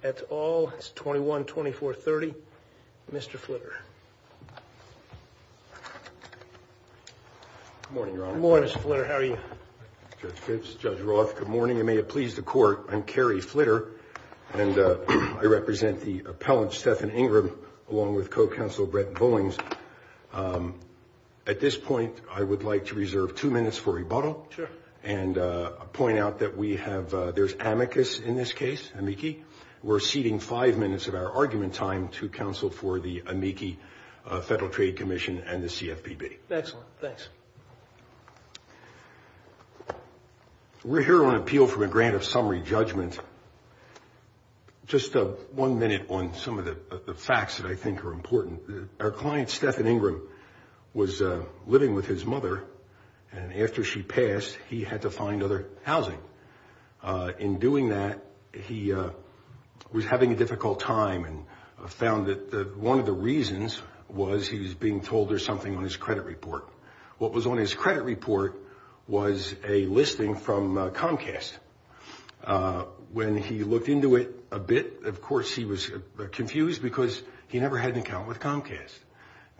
That's all. It's 21-2430. Mr. Flitter. Good morning, Your Honor. Good morning, Mr. Flitter. How are you? Judge Kibbs, Judge Roth, good morning, and may it please the Court, I'm Kerry Flitter, and I represent the appellant, Stephen Ingram, along with co-counsel Brett Bowings. At this point, I would like to reserve two minutes for rebuttal and point out that we have – in this case, amici, we're ceding five minutes of our argument time to counsel for the amici Federal Trade Commission and the CFPB. Excellent. Thanks. We're here on appeal from a grant of summary judgment. Just one minute on some of the facts that I think are important. Our client, Stephen Ingram, was living with his mother, and after she passed, he had to find other housing. In doing that, he was having a difficult time and found that one of the reasons was he was being told there's something on his credit report. What was on his credit report was a listing from Comcast. When he looked into it a bit, of course, he was confused because he never had an account with Comcast.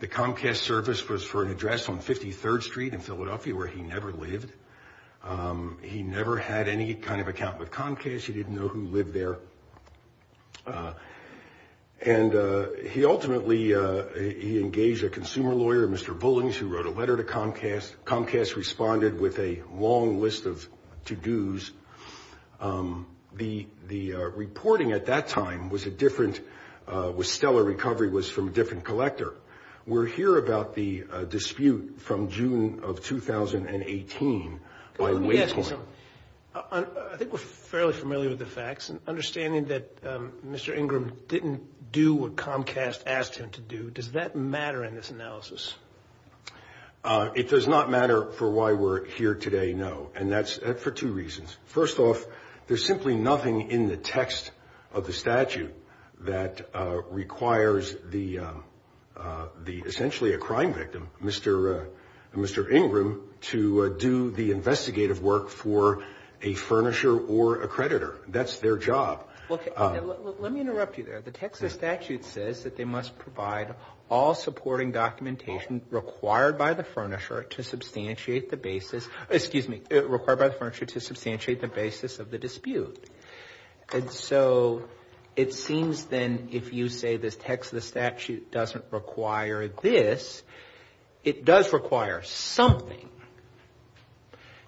The Comcast service was for an address on 53rd Street in Philadelphia where he never lived. He never had any kind of account with Comcast. He didn't know who lived there. And he ultimately – he engaged a consumer lawyer, Mr. Bullings, who wrote a letter to Comcast. Comcast responded with a long list of to-dos. The reporting at that time was a different – was stellar. Recovery was from a different collector. We're here about the dispute from June of 2018. Let me ask you something. I think we're fairly familiar with the facts. Understanding that Mr. Ingram didn't do what Comcast asked him to do, does that matter in this analysis? It does not matter for why we're here today, no, and that's for two reasons. First off, there's simply nothing in the text of the statute that requires the – essentially a crime victim, Mr. Ingram, to do the investigative work for a furnisher or a creditor. That's their job. Let me interrupt you there. The text of the statute says that they must provide all supporting documentation required by the furnisher to substantiate the basis – excuse me, required by the furnisher to substantiate the basis of the dispute. And so it seems then if you say this text of the statute doesn't require this, it does require something.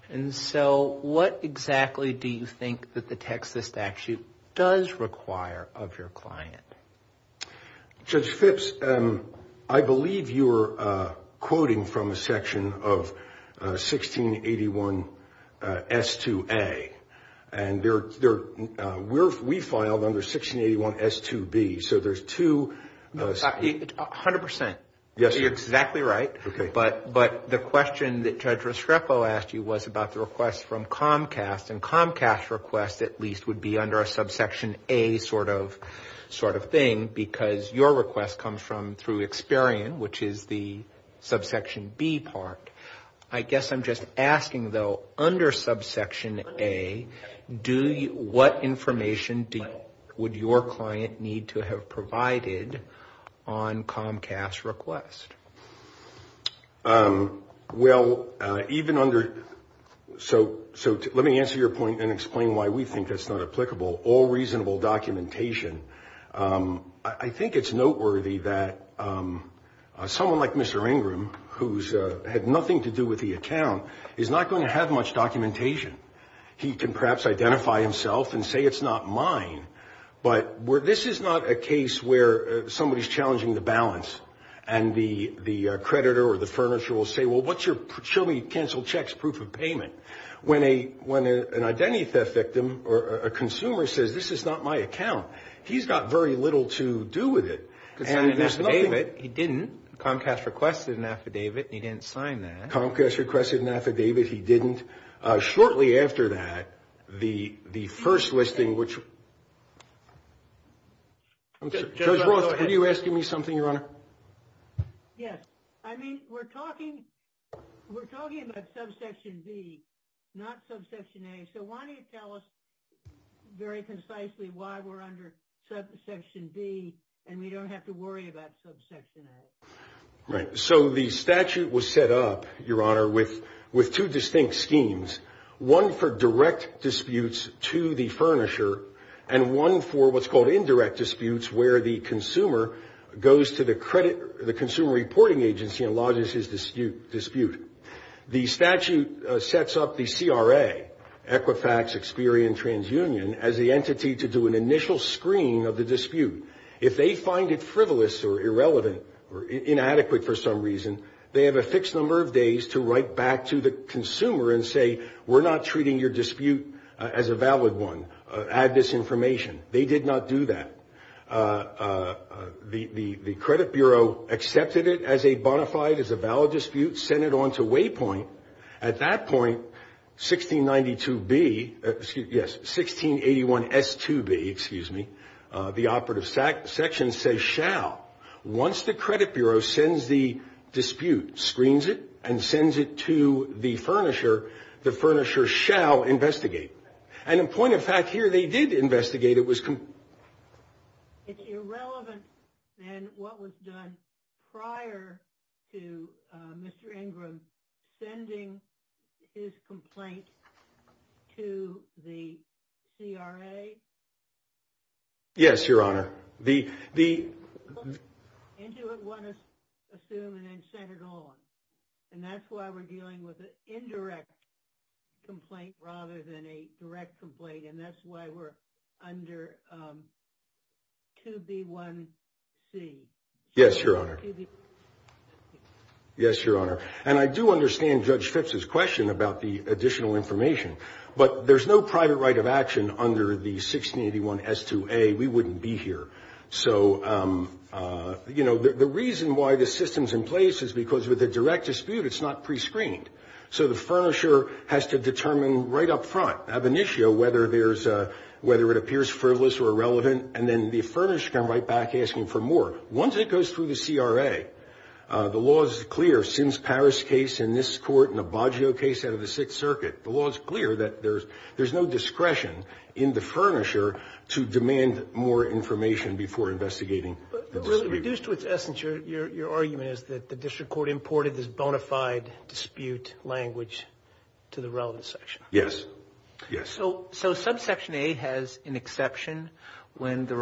And so what exactly do you think that the text of the statute does require of your client? Judge Phipps, I believe you were quoting from a section of 1681S2A, and we filed under 1681S2B. So there's two – A hundred percent. Yes, sir. You're exactly right. Okay. But the question that Judge Restrepo asked you was about the request from Comcast, and Comcast's request at least would be under a subsection A sort of thing, because your request comes from through Experian, which is the subsection B part. I guess I'm just asking, though, under subsection A, what information would your client need to have provided on Comcast's request? Well, even under – so let me answer your point and explain why we think that's not applicable, all reasonable documentation. I think it's noteworthy that someone like Mr. Ingram, who's had nothing to do with the account, is not going to have much documentation. He can perhaps identify himself and say it's not mine, but this is not a case where somebody's challenging the balance and the creditor or the furnisher will say, well, show me your canceled checks proof of payment. When an identity theft victim or a consumer says, this is not my account, he's got very little to do with it. He signed an affidavit. He didn't. Comcast requested an affidavit, and he didn't sign that. Comcast requested an affidavit. He didn't. Shortly after that, the first listing, which – Judge Roth, are you asking me something, Your Honor? Yes. I mean, we're talking about subsection B, not subsection A, so why don't you tell us very concisely why we're under subsection B and we don't have to worry about subsection A? Right. So the statute was set up, Your Honor, with two distinct schemes, one for direct disputes to the furnisher and one for what's called indirect disputes where the consumer goes to the consumer reporting agency and lodges his dispute. The statute sets up the CRA, Equifax, Experian, TransUnion, as the entity to do an initial screening of the dispute. If they find it frivolous or irrelevant or inadequate for some reason, they have a fixed number of days to write back to the consumer and say, we're not treating your dispute as a valid one. Add this information. They did not do that. The credit bureau accepted it as a bona fide, as a valid dispute, sent it on to Waypoint. At that point, 1692B, excuse me, yes, 1681S2B, excuse me, the operative section says shall. Once the credit bureau sends the dispute, screens it, and sends it to the furnisher, the furnisher shall investigate it. And a point of fact here, they did investigate it. It's irrelevant than what was done prior to Mr. Ingram sending his complaint to the CRA? Yes, Your Honor. The And do they want to assume and then send it on? And that's why we're dealing with an indirect complaint rather than a direct complaint, and that's why we're under 2B1C. Yes, Your Honor. Yes, Your Honor. And I do understand Judge Fitz's question about the additional information, but there's no private right of action under the 1681S2A. We wouldn't be here. So, you know, the reason why the system's in place is because with a direct dispute, it's not prescreened. So the furnisher has to determine right up front, ab initio, whether it appears frivolous or irrelevant, and then the furnisher can write back asking for more. Once it goes through the CRA, the law is clear. Sims-Paris case in this court and the Baggio case out of the Sixth Circuit, the law is clear that there's no discretion in the furnisher to demand more information before investigating. Reduced to its essence, your argument is that the district court imported this bona fide dispute language to the relevant section. Yes. Yes. So subsection A has an exception when the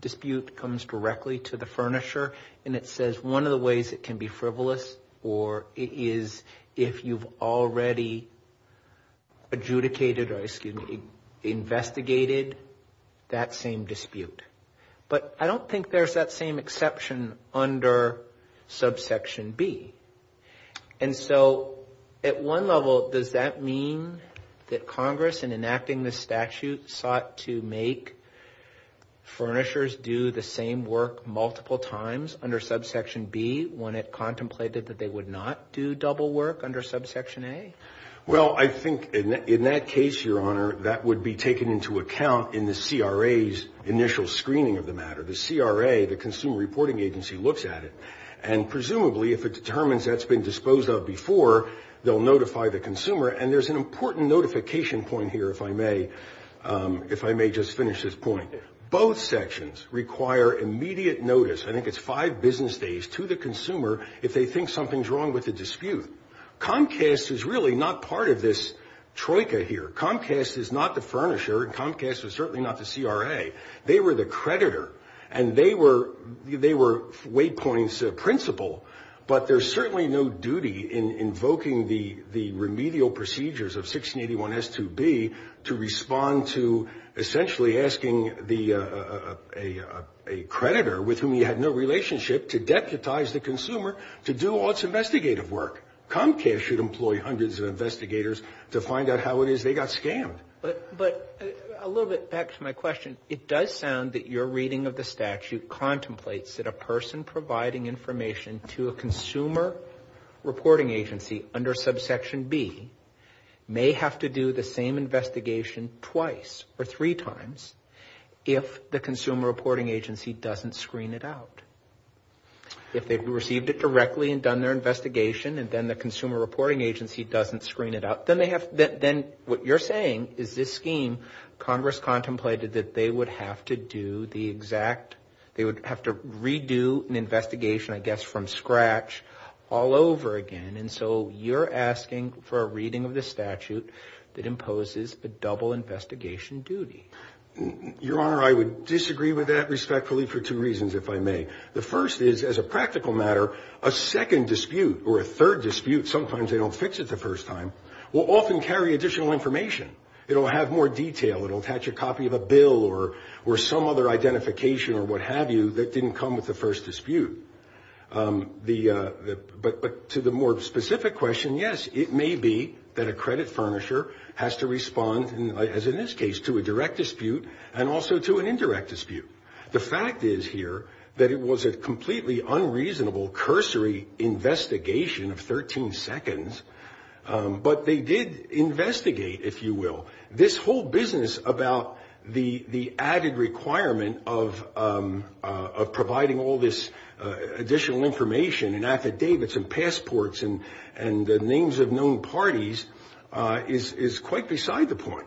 dispute comes directly to the furnisher and it says one of the ways it can be frivolous or it is if you've already adjudicated or, excuse me, investigated that same dispute. But I don't think there's that same exception under subsection B. And so at one level, does that mean that Congress, in enacting this statute, sought to make furnishers do the same work multiple times under subsection B when it contemplated that they would not do double work under subsection A? Well, I think in that case, your Honor, that would be taken into account in the CRA's initial screening of the matter. The CRA, the Consumer Reporting Agency, looks at it, and presumably if it determines that's been disposed of before, they'll notify the consumer. And there's an important notification point here, if I may, if I may just finish this point. Both sections require immediate notice. I think it's five business days to the consumer if they think something's wrong with the dispute. Comcast is really not part of this troika here. Comcast is not the furnisher. Comcast is certainly not the CRA. They were the creditor. And they were Waypoint's principal. But there's certainly no duty in invoking the remedial procedures of 1681S2B to respond to essentially asking a creditor with whom you had no relationship to deputize the consumer to do all its investigative work. Comcast should employ hundreds of investigators to find out how it is they got scammed. But a little bit back to my question, it does sound that your reading of the statute contemplates that a person providing information to a consumer reporting agency under subsection B may have to do the same investigation twice or three times if the consumer reporting agency doesn't screen it out. If they received it directly and done their investigation and then the consumer reporting agency doesn't screen it out, then what you're saying is this scheme, Congress contemplated that they would have to do the exact, they would have to redo an investigation, I guess, from scratch all over again. And so you're asking for a reading of the statute that imposes a double investigation duty. Your Honor, I would disagree with that respectfully for two reasons, if I may. The first is, as a practical matter, a second dispute or a third dispute, sometimes they don't fix it the first time, will often carry additional information. It will have more detail. It will attach a copy of a bill or some other identification or what have you that didn't come with the first dispute. But to the more specific question, yes, it may be that a credit furnisher has to respond, as in this case, to a direct dispute and also to an indirect dispute. The fact is here that it was a completely unreasonable cursory investigation of 13 seconds, but they did investigate, if you will. This whole business about the added requirement of providing all this additional information and affidavits and passports and the names of known parties is quite beside the point.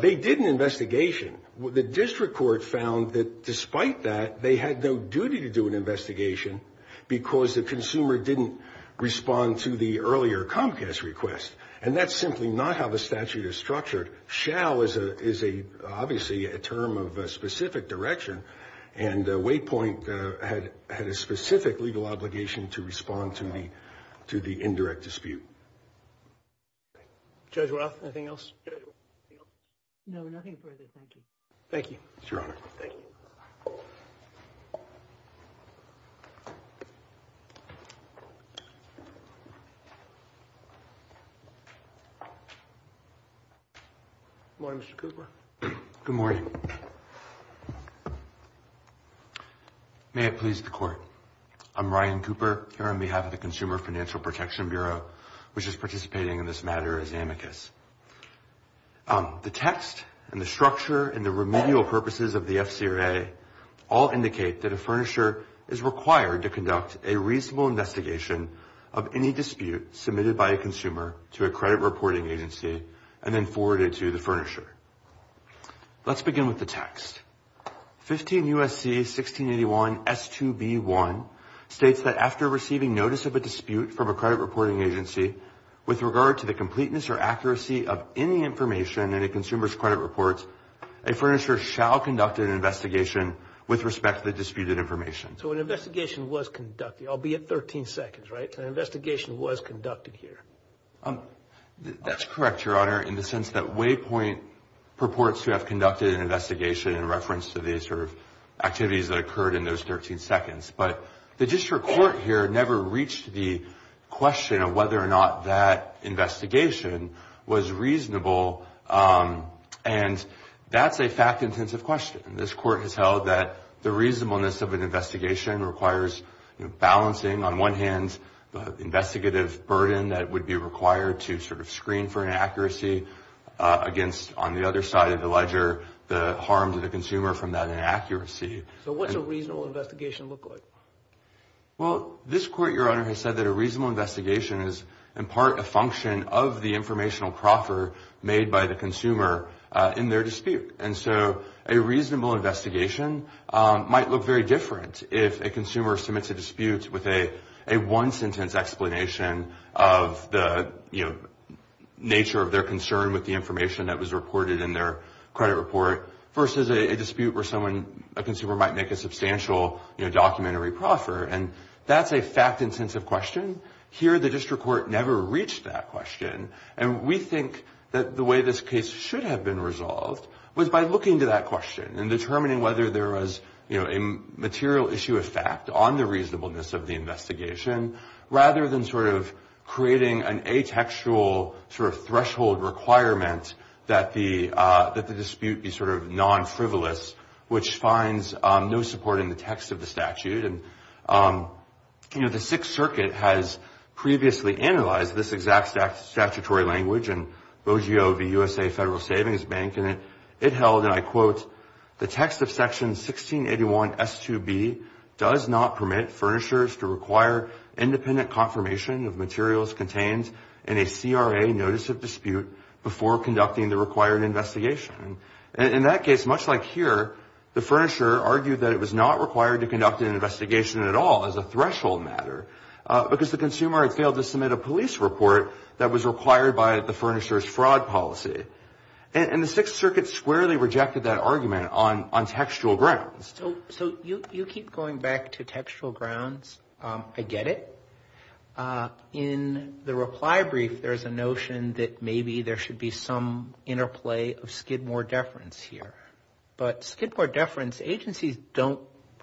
They did an investigation. The district court found that despite that, they had no duty to do an investigation because the consumer didn't respond to the earlier Comcast request. And that's simply not how the statute is structured. Shall is obviously a term of specific direction, and Waypoint had a specific legal obligation to respond to the indirect dispute. Judge Roth, anything else? No, nothing further. Thank you. Thank you, Your Honor. Thank you. Good morning, Mr. Cooper. Good morning. May it please the Court. I'm Ryan Cooper here on behalf of the Consumer Financial Protection Bureau, which is participating in this matter as amicus. The text and the structure and the remedial purposes of the FCRA all indicate that a furnisher is required to conduct a reasonable investigation of any dispute submitted by a consumer to a credit reporting agency and then forwarded to the furnisher. Let's begin with the text. 15 U.S.C. 1681 S2B1 states that after receiving notice of a dispute from a credit reporting agency with regard to the completeness or accuracy of any information in a consumer's credit reports, a furnisher shall conduct an investigation with respect to the disputed information. So an investigation was conducted, albeit 13 seconds, right? An investigation was conducted here. That's correct, Your Honor, in the sense that Waypoint purports to have conducted an investigation in reference to the sort of activities that occurred in those 13 seconds. But the district court here never reached the question of whether or not that investigation was reasonable. And that's a fact-intensive question. This Court has held that the reasonableness of an investigation requires balancing, on one hand, the investigative burden that would be required to sort of screen for inaccuracy against, on the other side of the ledger, the harm to the consumer from that inaccuracy. So what's a reasonable investigation look like? Well, this Court, Your Honor, has said that a reasonable investigation is, in part, a function of the informational proffer made by the consumer in their dispute. And so a reasonable investigation might look very different if a consumer submits a dispute with a one-sentence explanation of the, you know, nature of their concern with the information that was reported in their credit report versus a dispute where someone, a consumer, might make a substantial, you know, documentary proffer. And that's a fact-intensive question. Here, the district court never reached that question. And we think that the way this case should have been resolved was by looking to that question and determining whether there was, you know, a material issue of fact on the reasonableness of the investigation, rather than sort of creating an atextual sort of threshold requirement that the dispute be sort of non-frivolous, which finds no support in the text of the statute. And, you know, the Sixth Circuit has previously analyzed this exact statutory language in BOGO v. USA Federal Savings Bank, and it held, and I quote, the text of Section 1681 S2B does not permit furnishers to require independent confirmation of materials contained in a CRA notice of dispute before conducting the required investigation. And in that case, much like here, the furnisher argued that it was not required to conduct an investigation at all as a threshold matter because the consumer had failed to submit a police report that was required by the furnisher's fraud policy. And the Sixth Circuit squarely rejected that argument on textual grounds. So you keep going back to textual grounds. I get it. In the reply brief, there's a notion that maybe there should be some interplay of Skidmore deference here. But Skidmore deference, agencies don't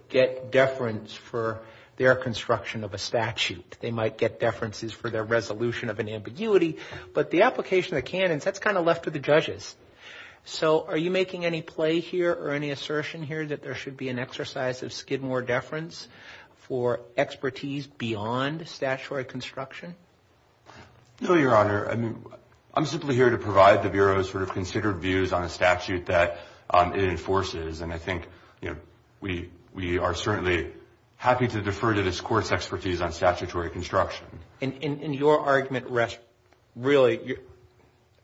get deference for their construction of a statute. They might get deferences for their resolution of an ambiguity. But the application of the canons, that's kind of left to the judges. So are you making any play here or any assertion here that there should be an exercise of Skidmore deference for expertise beyond statutory construction? No, Your Honor. I mean, I'm simply here to provide the Bureau's sort of considered views on a statute that it enforces. And I think, you know, we are certainly happy to defer to this Court's expertise on statutory construction. In your argument, really,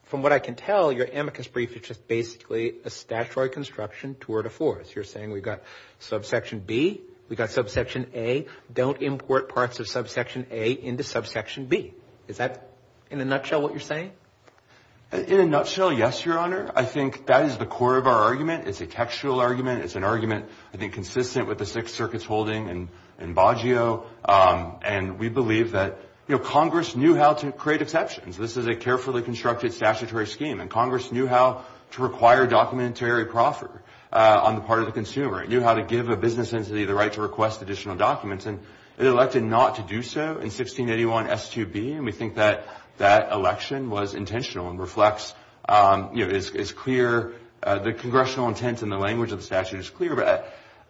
from what I can tell, your amicus brief is just basically a statutory construction tour de force. You're saying we've got subsection B, we've got subsection A. Don't import parts of subsection A into subsection B. Is that, in a nutshell, what you're saying? In a nutshell, yes, Your Honor. I think that is the core of our argument. It's a textual argument. It's an argument, I think, consistent with the Sixth Circuit's holding in Baggio. And we believe that, you know, Congress knew how to create exceptions. This is a carefully constructed statutory scheme. And Congress knew how to require documentary proffer on the part of the consumer. It knew how to give a business entity the right to request additional documents. And it elected not to do so in 1681 S2B. And we think that that election was intentional and reflects, you know, is clear. The congressional intent and the language of the statute is clear.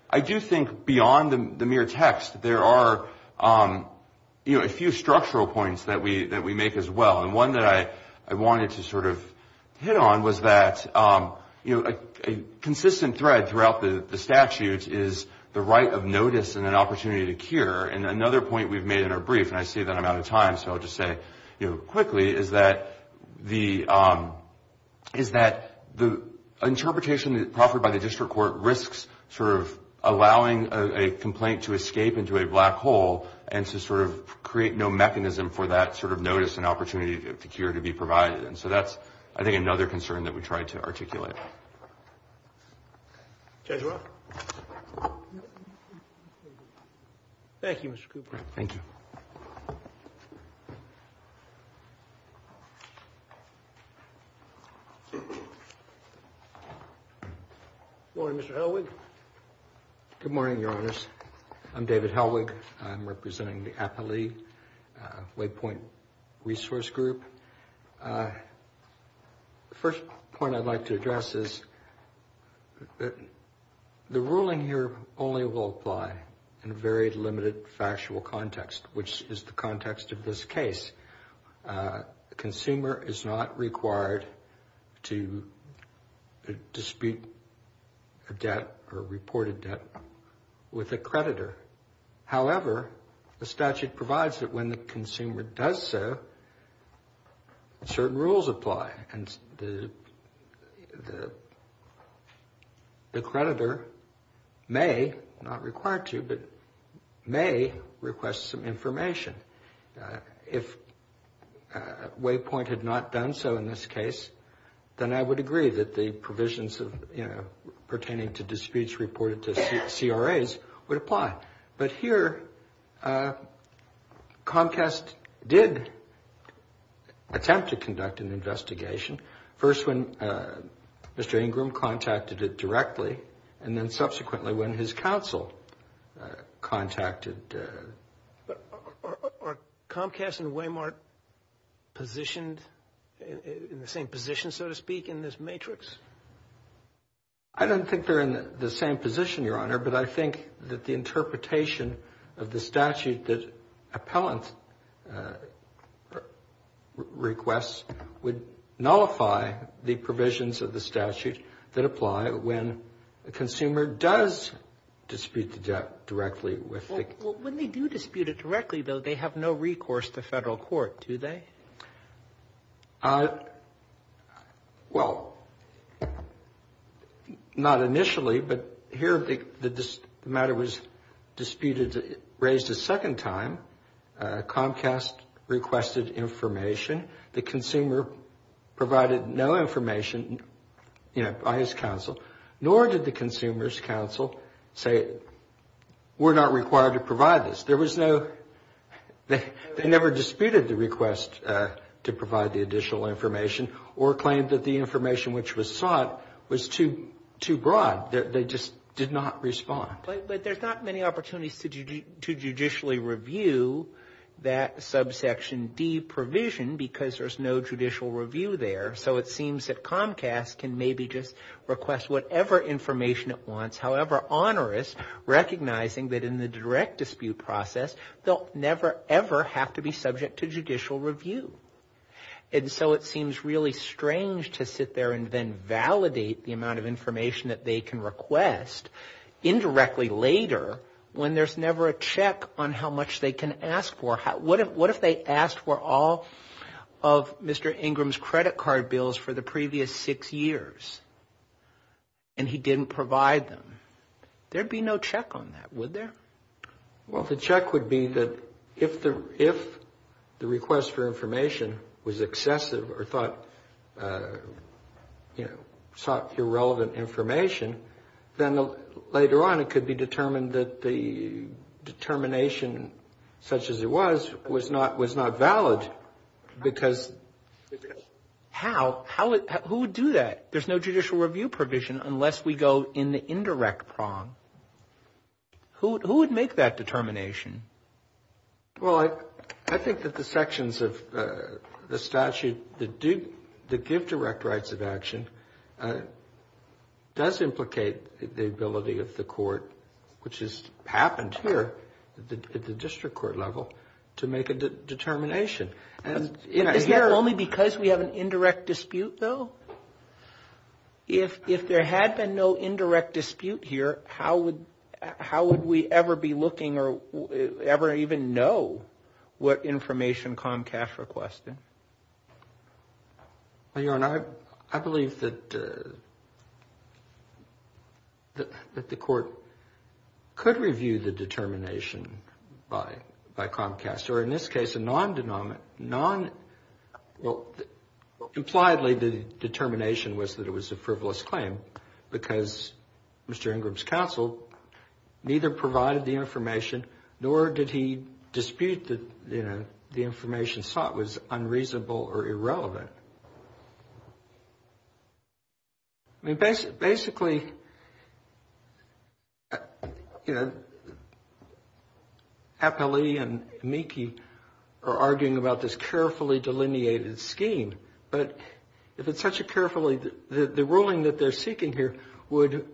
I do think beyond the mere text, there are, you know, a few structural points that we make as well. And one that I wanted to sort of hit on was that, you know, a consistent thread throughout the statute is the right of notice and an opportunity to cure. And another point we've made in our brief, and I see that I'm out of time, so I'll just say, you know, quickly, is that the interpretation offered by the district court risks sort of allowing a complaint to escape into a black hole and to sort of create no mechanism for that sort of notice and opportunity to cure to be provided. And so that's, I think, another concern that we tried to articulate. Judge Roth. Thank you, Mr. Cooper. Thank you. Good morning, Mr. Helwig. Good morning, Your Honors. I'm David Helwig. I'm representing the APALE, Waypoint Resource Group. The first point I'd like to address is the ruling here only will apply in a very limited factual context, which is the context of this case. The consumer is not required to dispute a debt or report a debt with a creditor. However, the statute provides that when the consumer does so, certain rules apply. And the creditor may, not required to, but may request some information. If Waypoint had not done so in this case, then I would agree that the provisions of, you know, but here Comcast did attempt to conduct an investigation, first when Mr. Ingram contacted it directly, and then subsequently when his counsel contacted. Are Comcast and Waymart positioned in the same position, so to speak, in this matrix? I don't think they're in the same position, Your Honor, but I think that the interpretation of the statute that appellant requests would nullify the provisions of the statute that apply when the consumer does dispute the debt directly with the. Well, when they do dispute it directly, though, they have no recourse to federal court, do they? Well, not initially, but here the matter was disputed, raised a second time. Comcast requested information. The consumer provided no information, you know, by his counsel, nor did the consumer's counsel say, we're not required to provide this. There was no, they never disputed the request to provide the additional information or claimed that the information which was sought was too broad. They just did not respond. But there's not many opportunities to judicially review that subsection D provision because there's no judicial review there. So it seems that Comcast can maybe just request whatever information it wants, however onerous, recognizing that in the direct dispute process, they'll never ever have to be subject to judicial review. And so it seems really strange to sit there and then validate the amount of information that they can request indirectly later when there's never a check on how much they can ask for. What if they asked for all of Mr. Ingram's credit card bills for the previous six years and he didn't provide them? There'd be no check on that, would there? Well, the check would be that if the request for information was excessive or thought, you know, sought irrelevant information, then later on it could be determined that the determination such as it was was not valid because how, who would do that? There's no judicial review provision unless we go in the indirect prong. Who would make that determination? Well, I think that the sections of the statute that give direct rights of action does implicate the ability of the court, which has happened here at the district court level, to make a determination. Is that only because we have an indirect dispute, though? If there had been no indirect dispute here, how would we ever be looking or ever even know what information Comcast requested? Your Honor, I believe that the court could review the determination by Comcast, or in this case a non-denominational Well, impliedly, the determination was that it was a frivolous claim, because Mr. Ingram's counsel neither provided the information, nor did he dispute that, you know, the information sought was unreasonable or irrelevant. I mean, basically, you know, Apellee and Meeke are arguing about the fact that, you know, they have this carefully delineated scheme, but if it's such a carefully... The ruling that they're seeking here would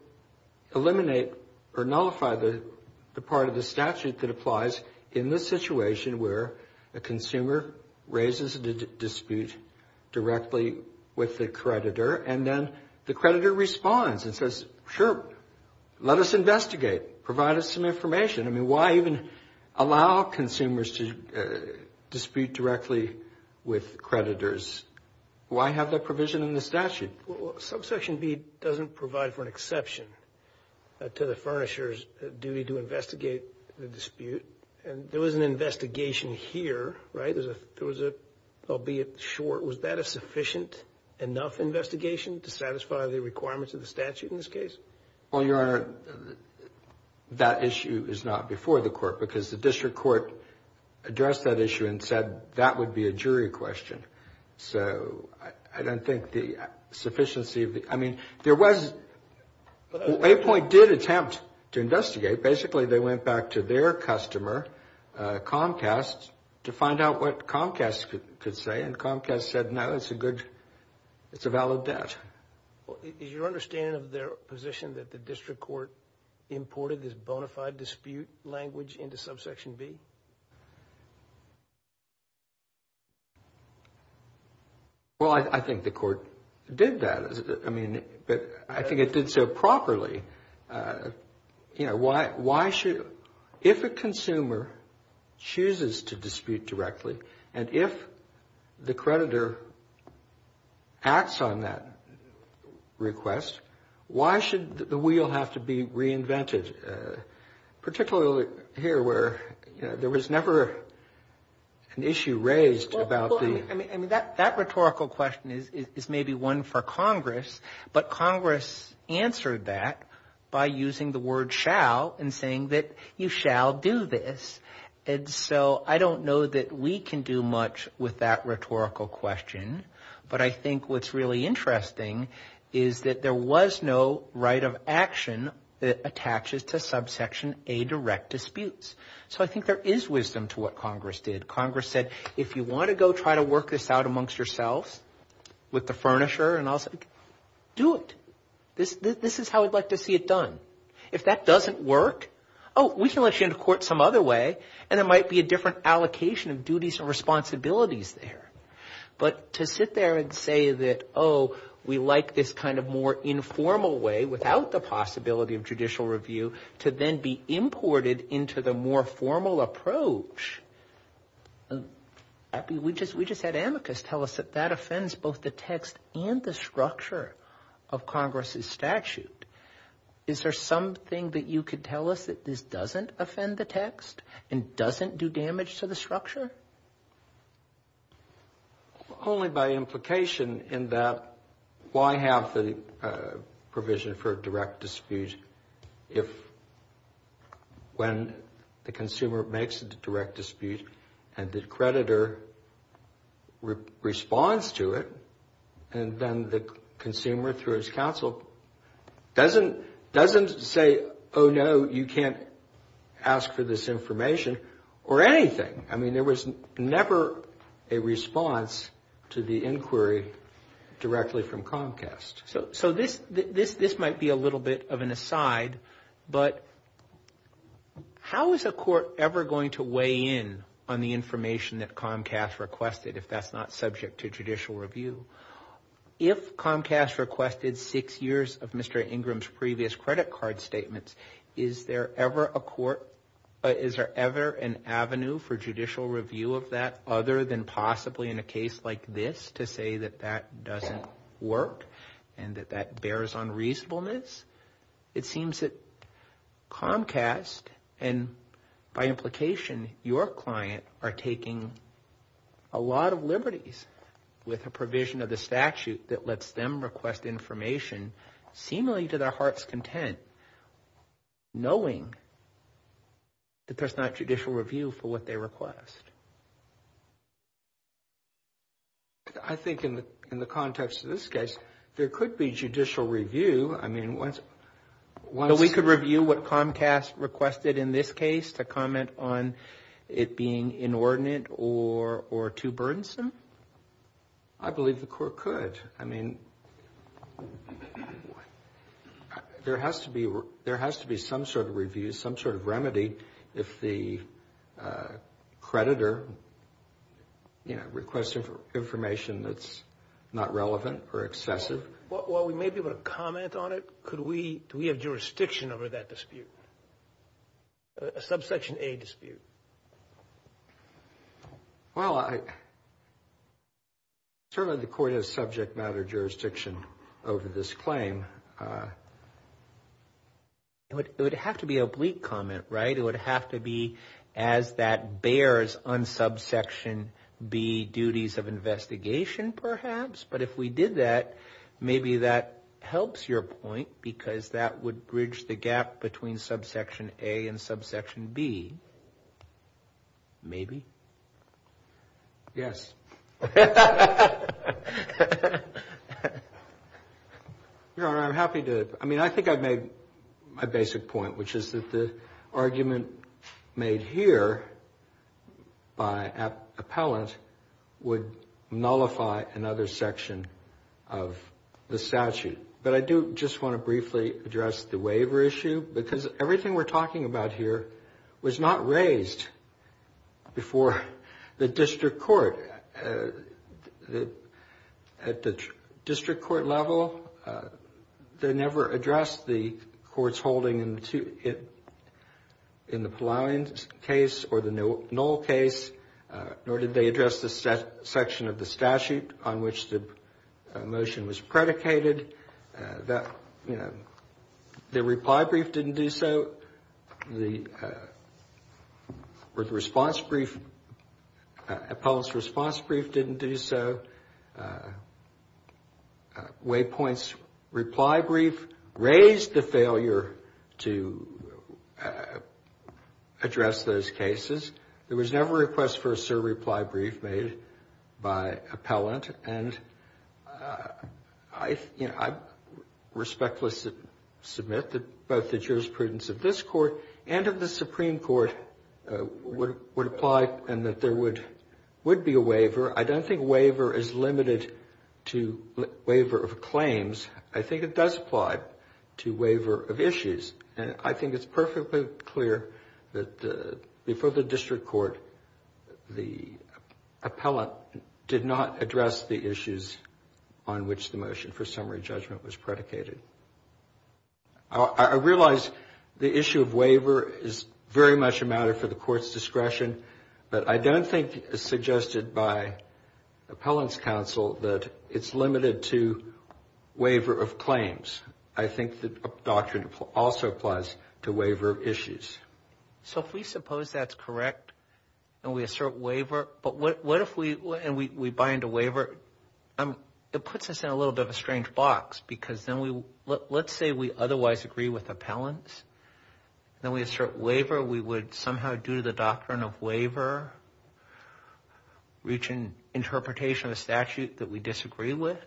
eliminate or nullify the part of the statute that applies in this situation, where a consumer raises a dispute directly with the creditor, and then the creditor responds and says, sure, let us investigate, provide us some information. I mean, why even allow consumers to dispute directly with creditors? Why have that provision in the statute? Well, subsection B doesn't provide for an exception to the furnisher's duty to investigate the dispute. And there was an investigation here, right? There was a, albeit short, was that a sufficient enough investigation to satisfy the requirements of the statute in this case? Well, Your Honor, that issue is not before the Court, because the District Court addressed that issue and said that would be a jury question. So I don't think the sufficiency of the... I mean, there was... Well, Apoint did attempt to investigate. Basically, they went back to their customer, Comcast, to find out what Comcast could say, and Comcast said, no, it's a good, it's a valid bet. Is your understanding of their position that the District Court imported this bona fide dispute language into subsection B? Well, I think the Court did that. I mean, I think it did so properly. You know, why should... If a consumer chooses to dispute directly, and if the creditor acts on that request, why should the wheel have to be reinvented? Particularly here, where, you know, there was never an issue raised about the... Well, I mean, that rhetorical question is maybe one for Congress, but Congress answered that by using the word shall and saying that you shall do this. And so I don't know that we can do much with that rhetorical question, but I think what's really interesting is that there was no right of action that attaches to subsection A direct disputes. So I think there is wisdom to what Congress did. Congress said, if you want to go try to work this out amongst yourselves, with the furnisher and all, do it. This is how we'd like to see it done. If that doesn't work, oh, we can let you into court some other way, and there might be a different allocation of duties and responsibilities there. But to sit there and say that, oh, we like this kind of more informal way, without the possibility of judicial review, we just had amicus tell us that that offends both the text and the structure of Congress's statute. Is there something that you could tell us that this doesn't offend the text and doesn't do damage to the structure? Only by implication in that why have the provision for direct dispute if when the consumer makes a direct dispute and the creditor responds to it, and then the consumer, through his counsel, doesn't say, oh, no, you can't ask for this information or anything. I mean, there was never a response to the inquiry directly from Comcast. So this might be a little bit of an aside, but how is a court ever going to weigh in on the information that Comcast requested, if that's not subject to judicial review? If Comcast requested six years of Mr. Ingram's previous credit card statements, is there ever an avenue for judicial review of that, other than possibly in a case like this, to say that that doesn't work and that that bears on reasonableness? It seems that Comcast, and by implication your client, are taking a lot of liberties with the provision of the statute that lets them request information seemingly to their heart's content, knowing that there's not judicial review for what they request. I think in the context of this case, there could be judicial review. We could review what Comcast requested in this case to comment on it being inordinate or too burdensome? I believe the court could. There has to be some sort of review, some sort of remedy, if the creditor requests information that's not relevant or excessive. Well, we may be able to comment on it. Do we have jurisdiction over that dispute, a Subsection A dispute? Well, certainly the court has subject matter jurisdiction over this claim. It would have to be a bleak comment, right? It would have to be as that bears on Subsection B duties of investigation, perhaps? But if we did that, maybe that helps your point, because that would bridge the gap between Subsection A and Subsection B. Maybe? Yes. Your Honor, I'm happy to, I mean, I think I've made my basic point, which is that the argument made here by an appellant would nullify another section of the statute. But I do just want to briefly address the waiver issue, because everything we're talking about here was not raised before the district court. At the district court level, they never addressed the court's holding in the Palauian case or the Knoll case, nor did they address the section of the statute on which the motion was predicated. The reply brief didn't do so, or the response brief, appellant's response brief didn't do so. Waypoint's reply brief raised the failure to address those cases. There was never a request for a sir reply brief made by appellant, and I respectfully submit that both the jurisprudence of this court and of the Supreme Court would apply and that there would be a waiver. I don't think waiver is limited to waiver of claims. I think it does apply to waiver of issues, and I think it's perfectly clear that before the district court, the appellant did not address the issues on which the motion for summary judgment was predicated. I realize the issue of waiver is very much a matter for the court's discretion, but I don't think it's suggested by appellant's counsel that it's limited to waiver of claims. I think the doctrine also applies to waiver of issues. So if we suppose that's correct and we assert waiver, but what if we bind a waiver? It puts us in a little bit of a strange box, because let's say we otherwise agree with appellants, then we assert waiver, we would somehow, due to the doctrine of waiver, reach an interpretation of a statute that we disagree with,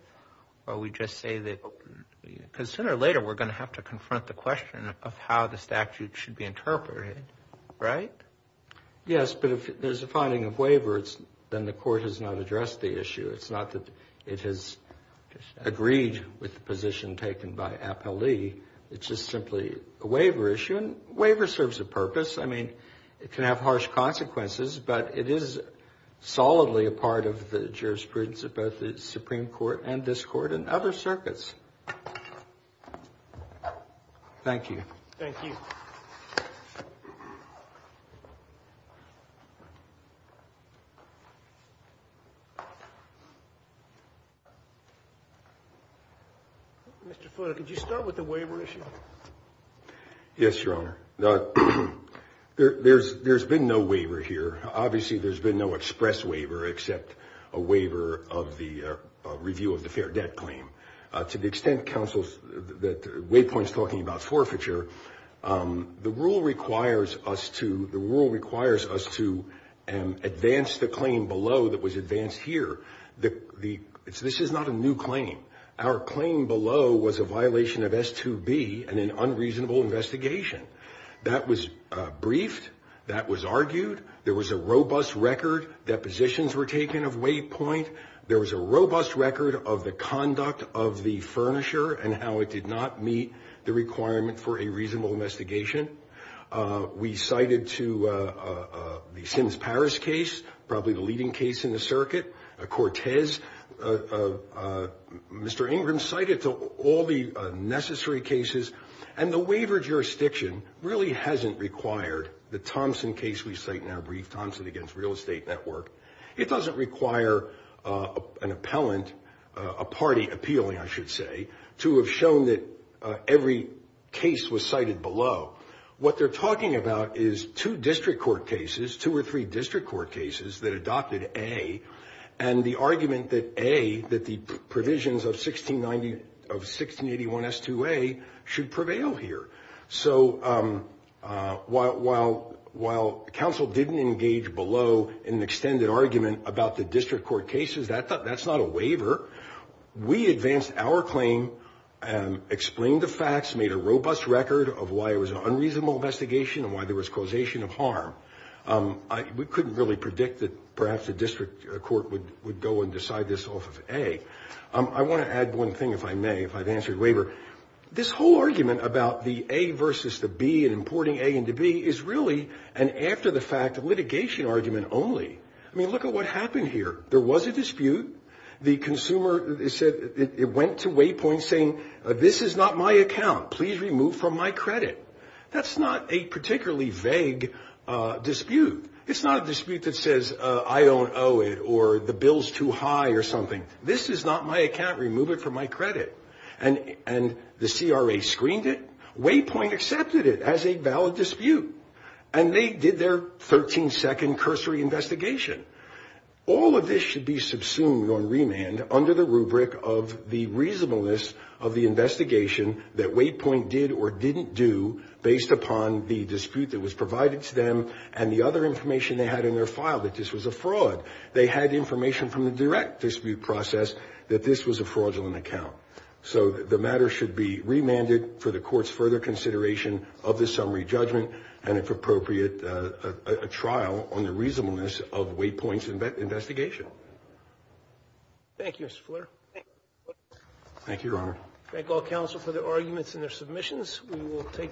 or we just say that, because sooner or later we're going to have to confront the question of how the statute should be interpreted, right? Yes, but if there's a finding of waiver, then the court has not addressed the issue. It's not that it has agreed with the position taken by appellee. It's just simply a waiver issue, and waiver serves a purpose. I mean, it can have harsh consequences, but it is solidly a part of the jurisprudence of both the Supreme Court and this Court and other circuits. Thank you. Mr. Fuller, could you start with the waiver issue? Yes, Your Honor. There's been no waiver here. Obviously, there's been no express waiver except a waiver of the review of the fair debt claim. To the extent that Waypoint's talking about forfeiture, the rule requires us to advance the claim below that was advanced here. This is not a new claim. Our claim below was a violation of S2B and an unreasonable investigation. That was briefed. That was argued. There was a robust record. Depositions were taken of Waypoint. There was a robust record of the conduct of the furnisher and how it did not meet the requirement for a reasonable investigation. We cited to the Sims-Paris case, probably the leading case in the circuit. Cortez, Mr. Ingram cited to all the necessary cases, and the waiver jurisdiction really hasn't required the Thompson case we cite in our brief, Thompson against Real Estate Network. It doesn't require an appellant, a party appealing, I should say, to have shown that every case was cited below. What they're talking about is two district court cases, two or three district court cases that adopted A, and the argument that A, that the provisions of 1681S2A should prevail here. So while counsel didn't engage below in an extended argument about the district court cases, that's not a waiver, we advanced our claim, explained the facts, made a robust record of why it was an unreasonable investigation and why there was causation of harm. We couldn't really predict that perhaps a district court would go and decide this off of A. I want to add one thing, if I may, if I've answered waiver. This whole argument about the A versus the B and importing A into B is really an after-the-fact litigation argument only. I mean, look at what happened here. There was a dispute, the consumer went to Waypoint saying, this is not my account, please remove from my credit. That's not a particularly vague dispute. It's not a dispute that says I don't owe it or the bill's too high or something. This is not my account, remove it from my credit. And the CRA screened it, Waypoint accepted it as a valid dispute, and they did their 13-second cursory investigation. All of this should be subsumed on remand under the rubric of the reasonableness of the investigation that Waypoint did or didn't do based upon the dispute that was provided to them and the other information they had in their file that this was a fraud. They had information from the direct dispute process that this was a fraudulent account. So the matter should be remanded for the Court's further consideration of the summary judgment and, if appropriate, a trial on the reasonableness of Waypoint's investigation. Thank you, Mr. Fuller. Thank you, Your Honor.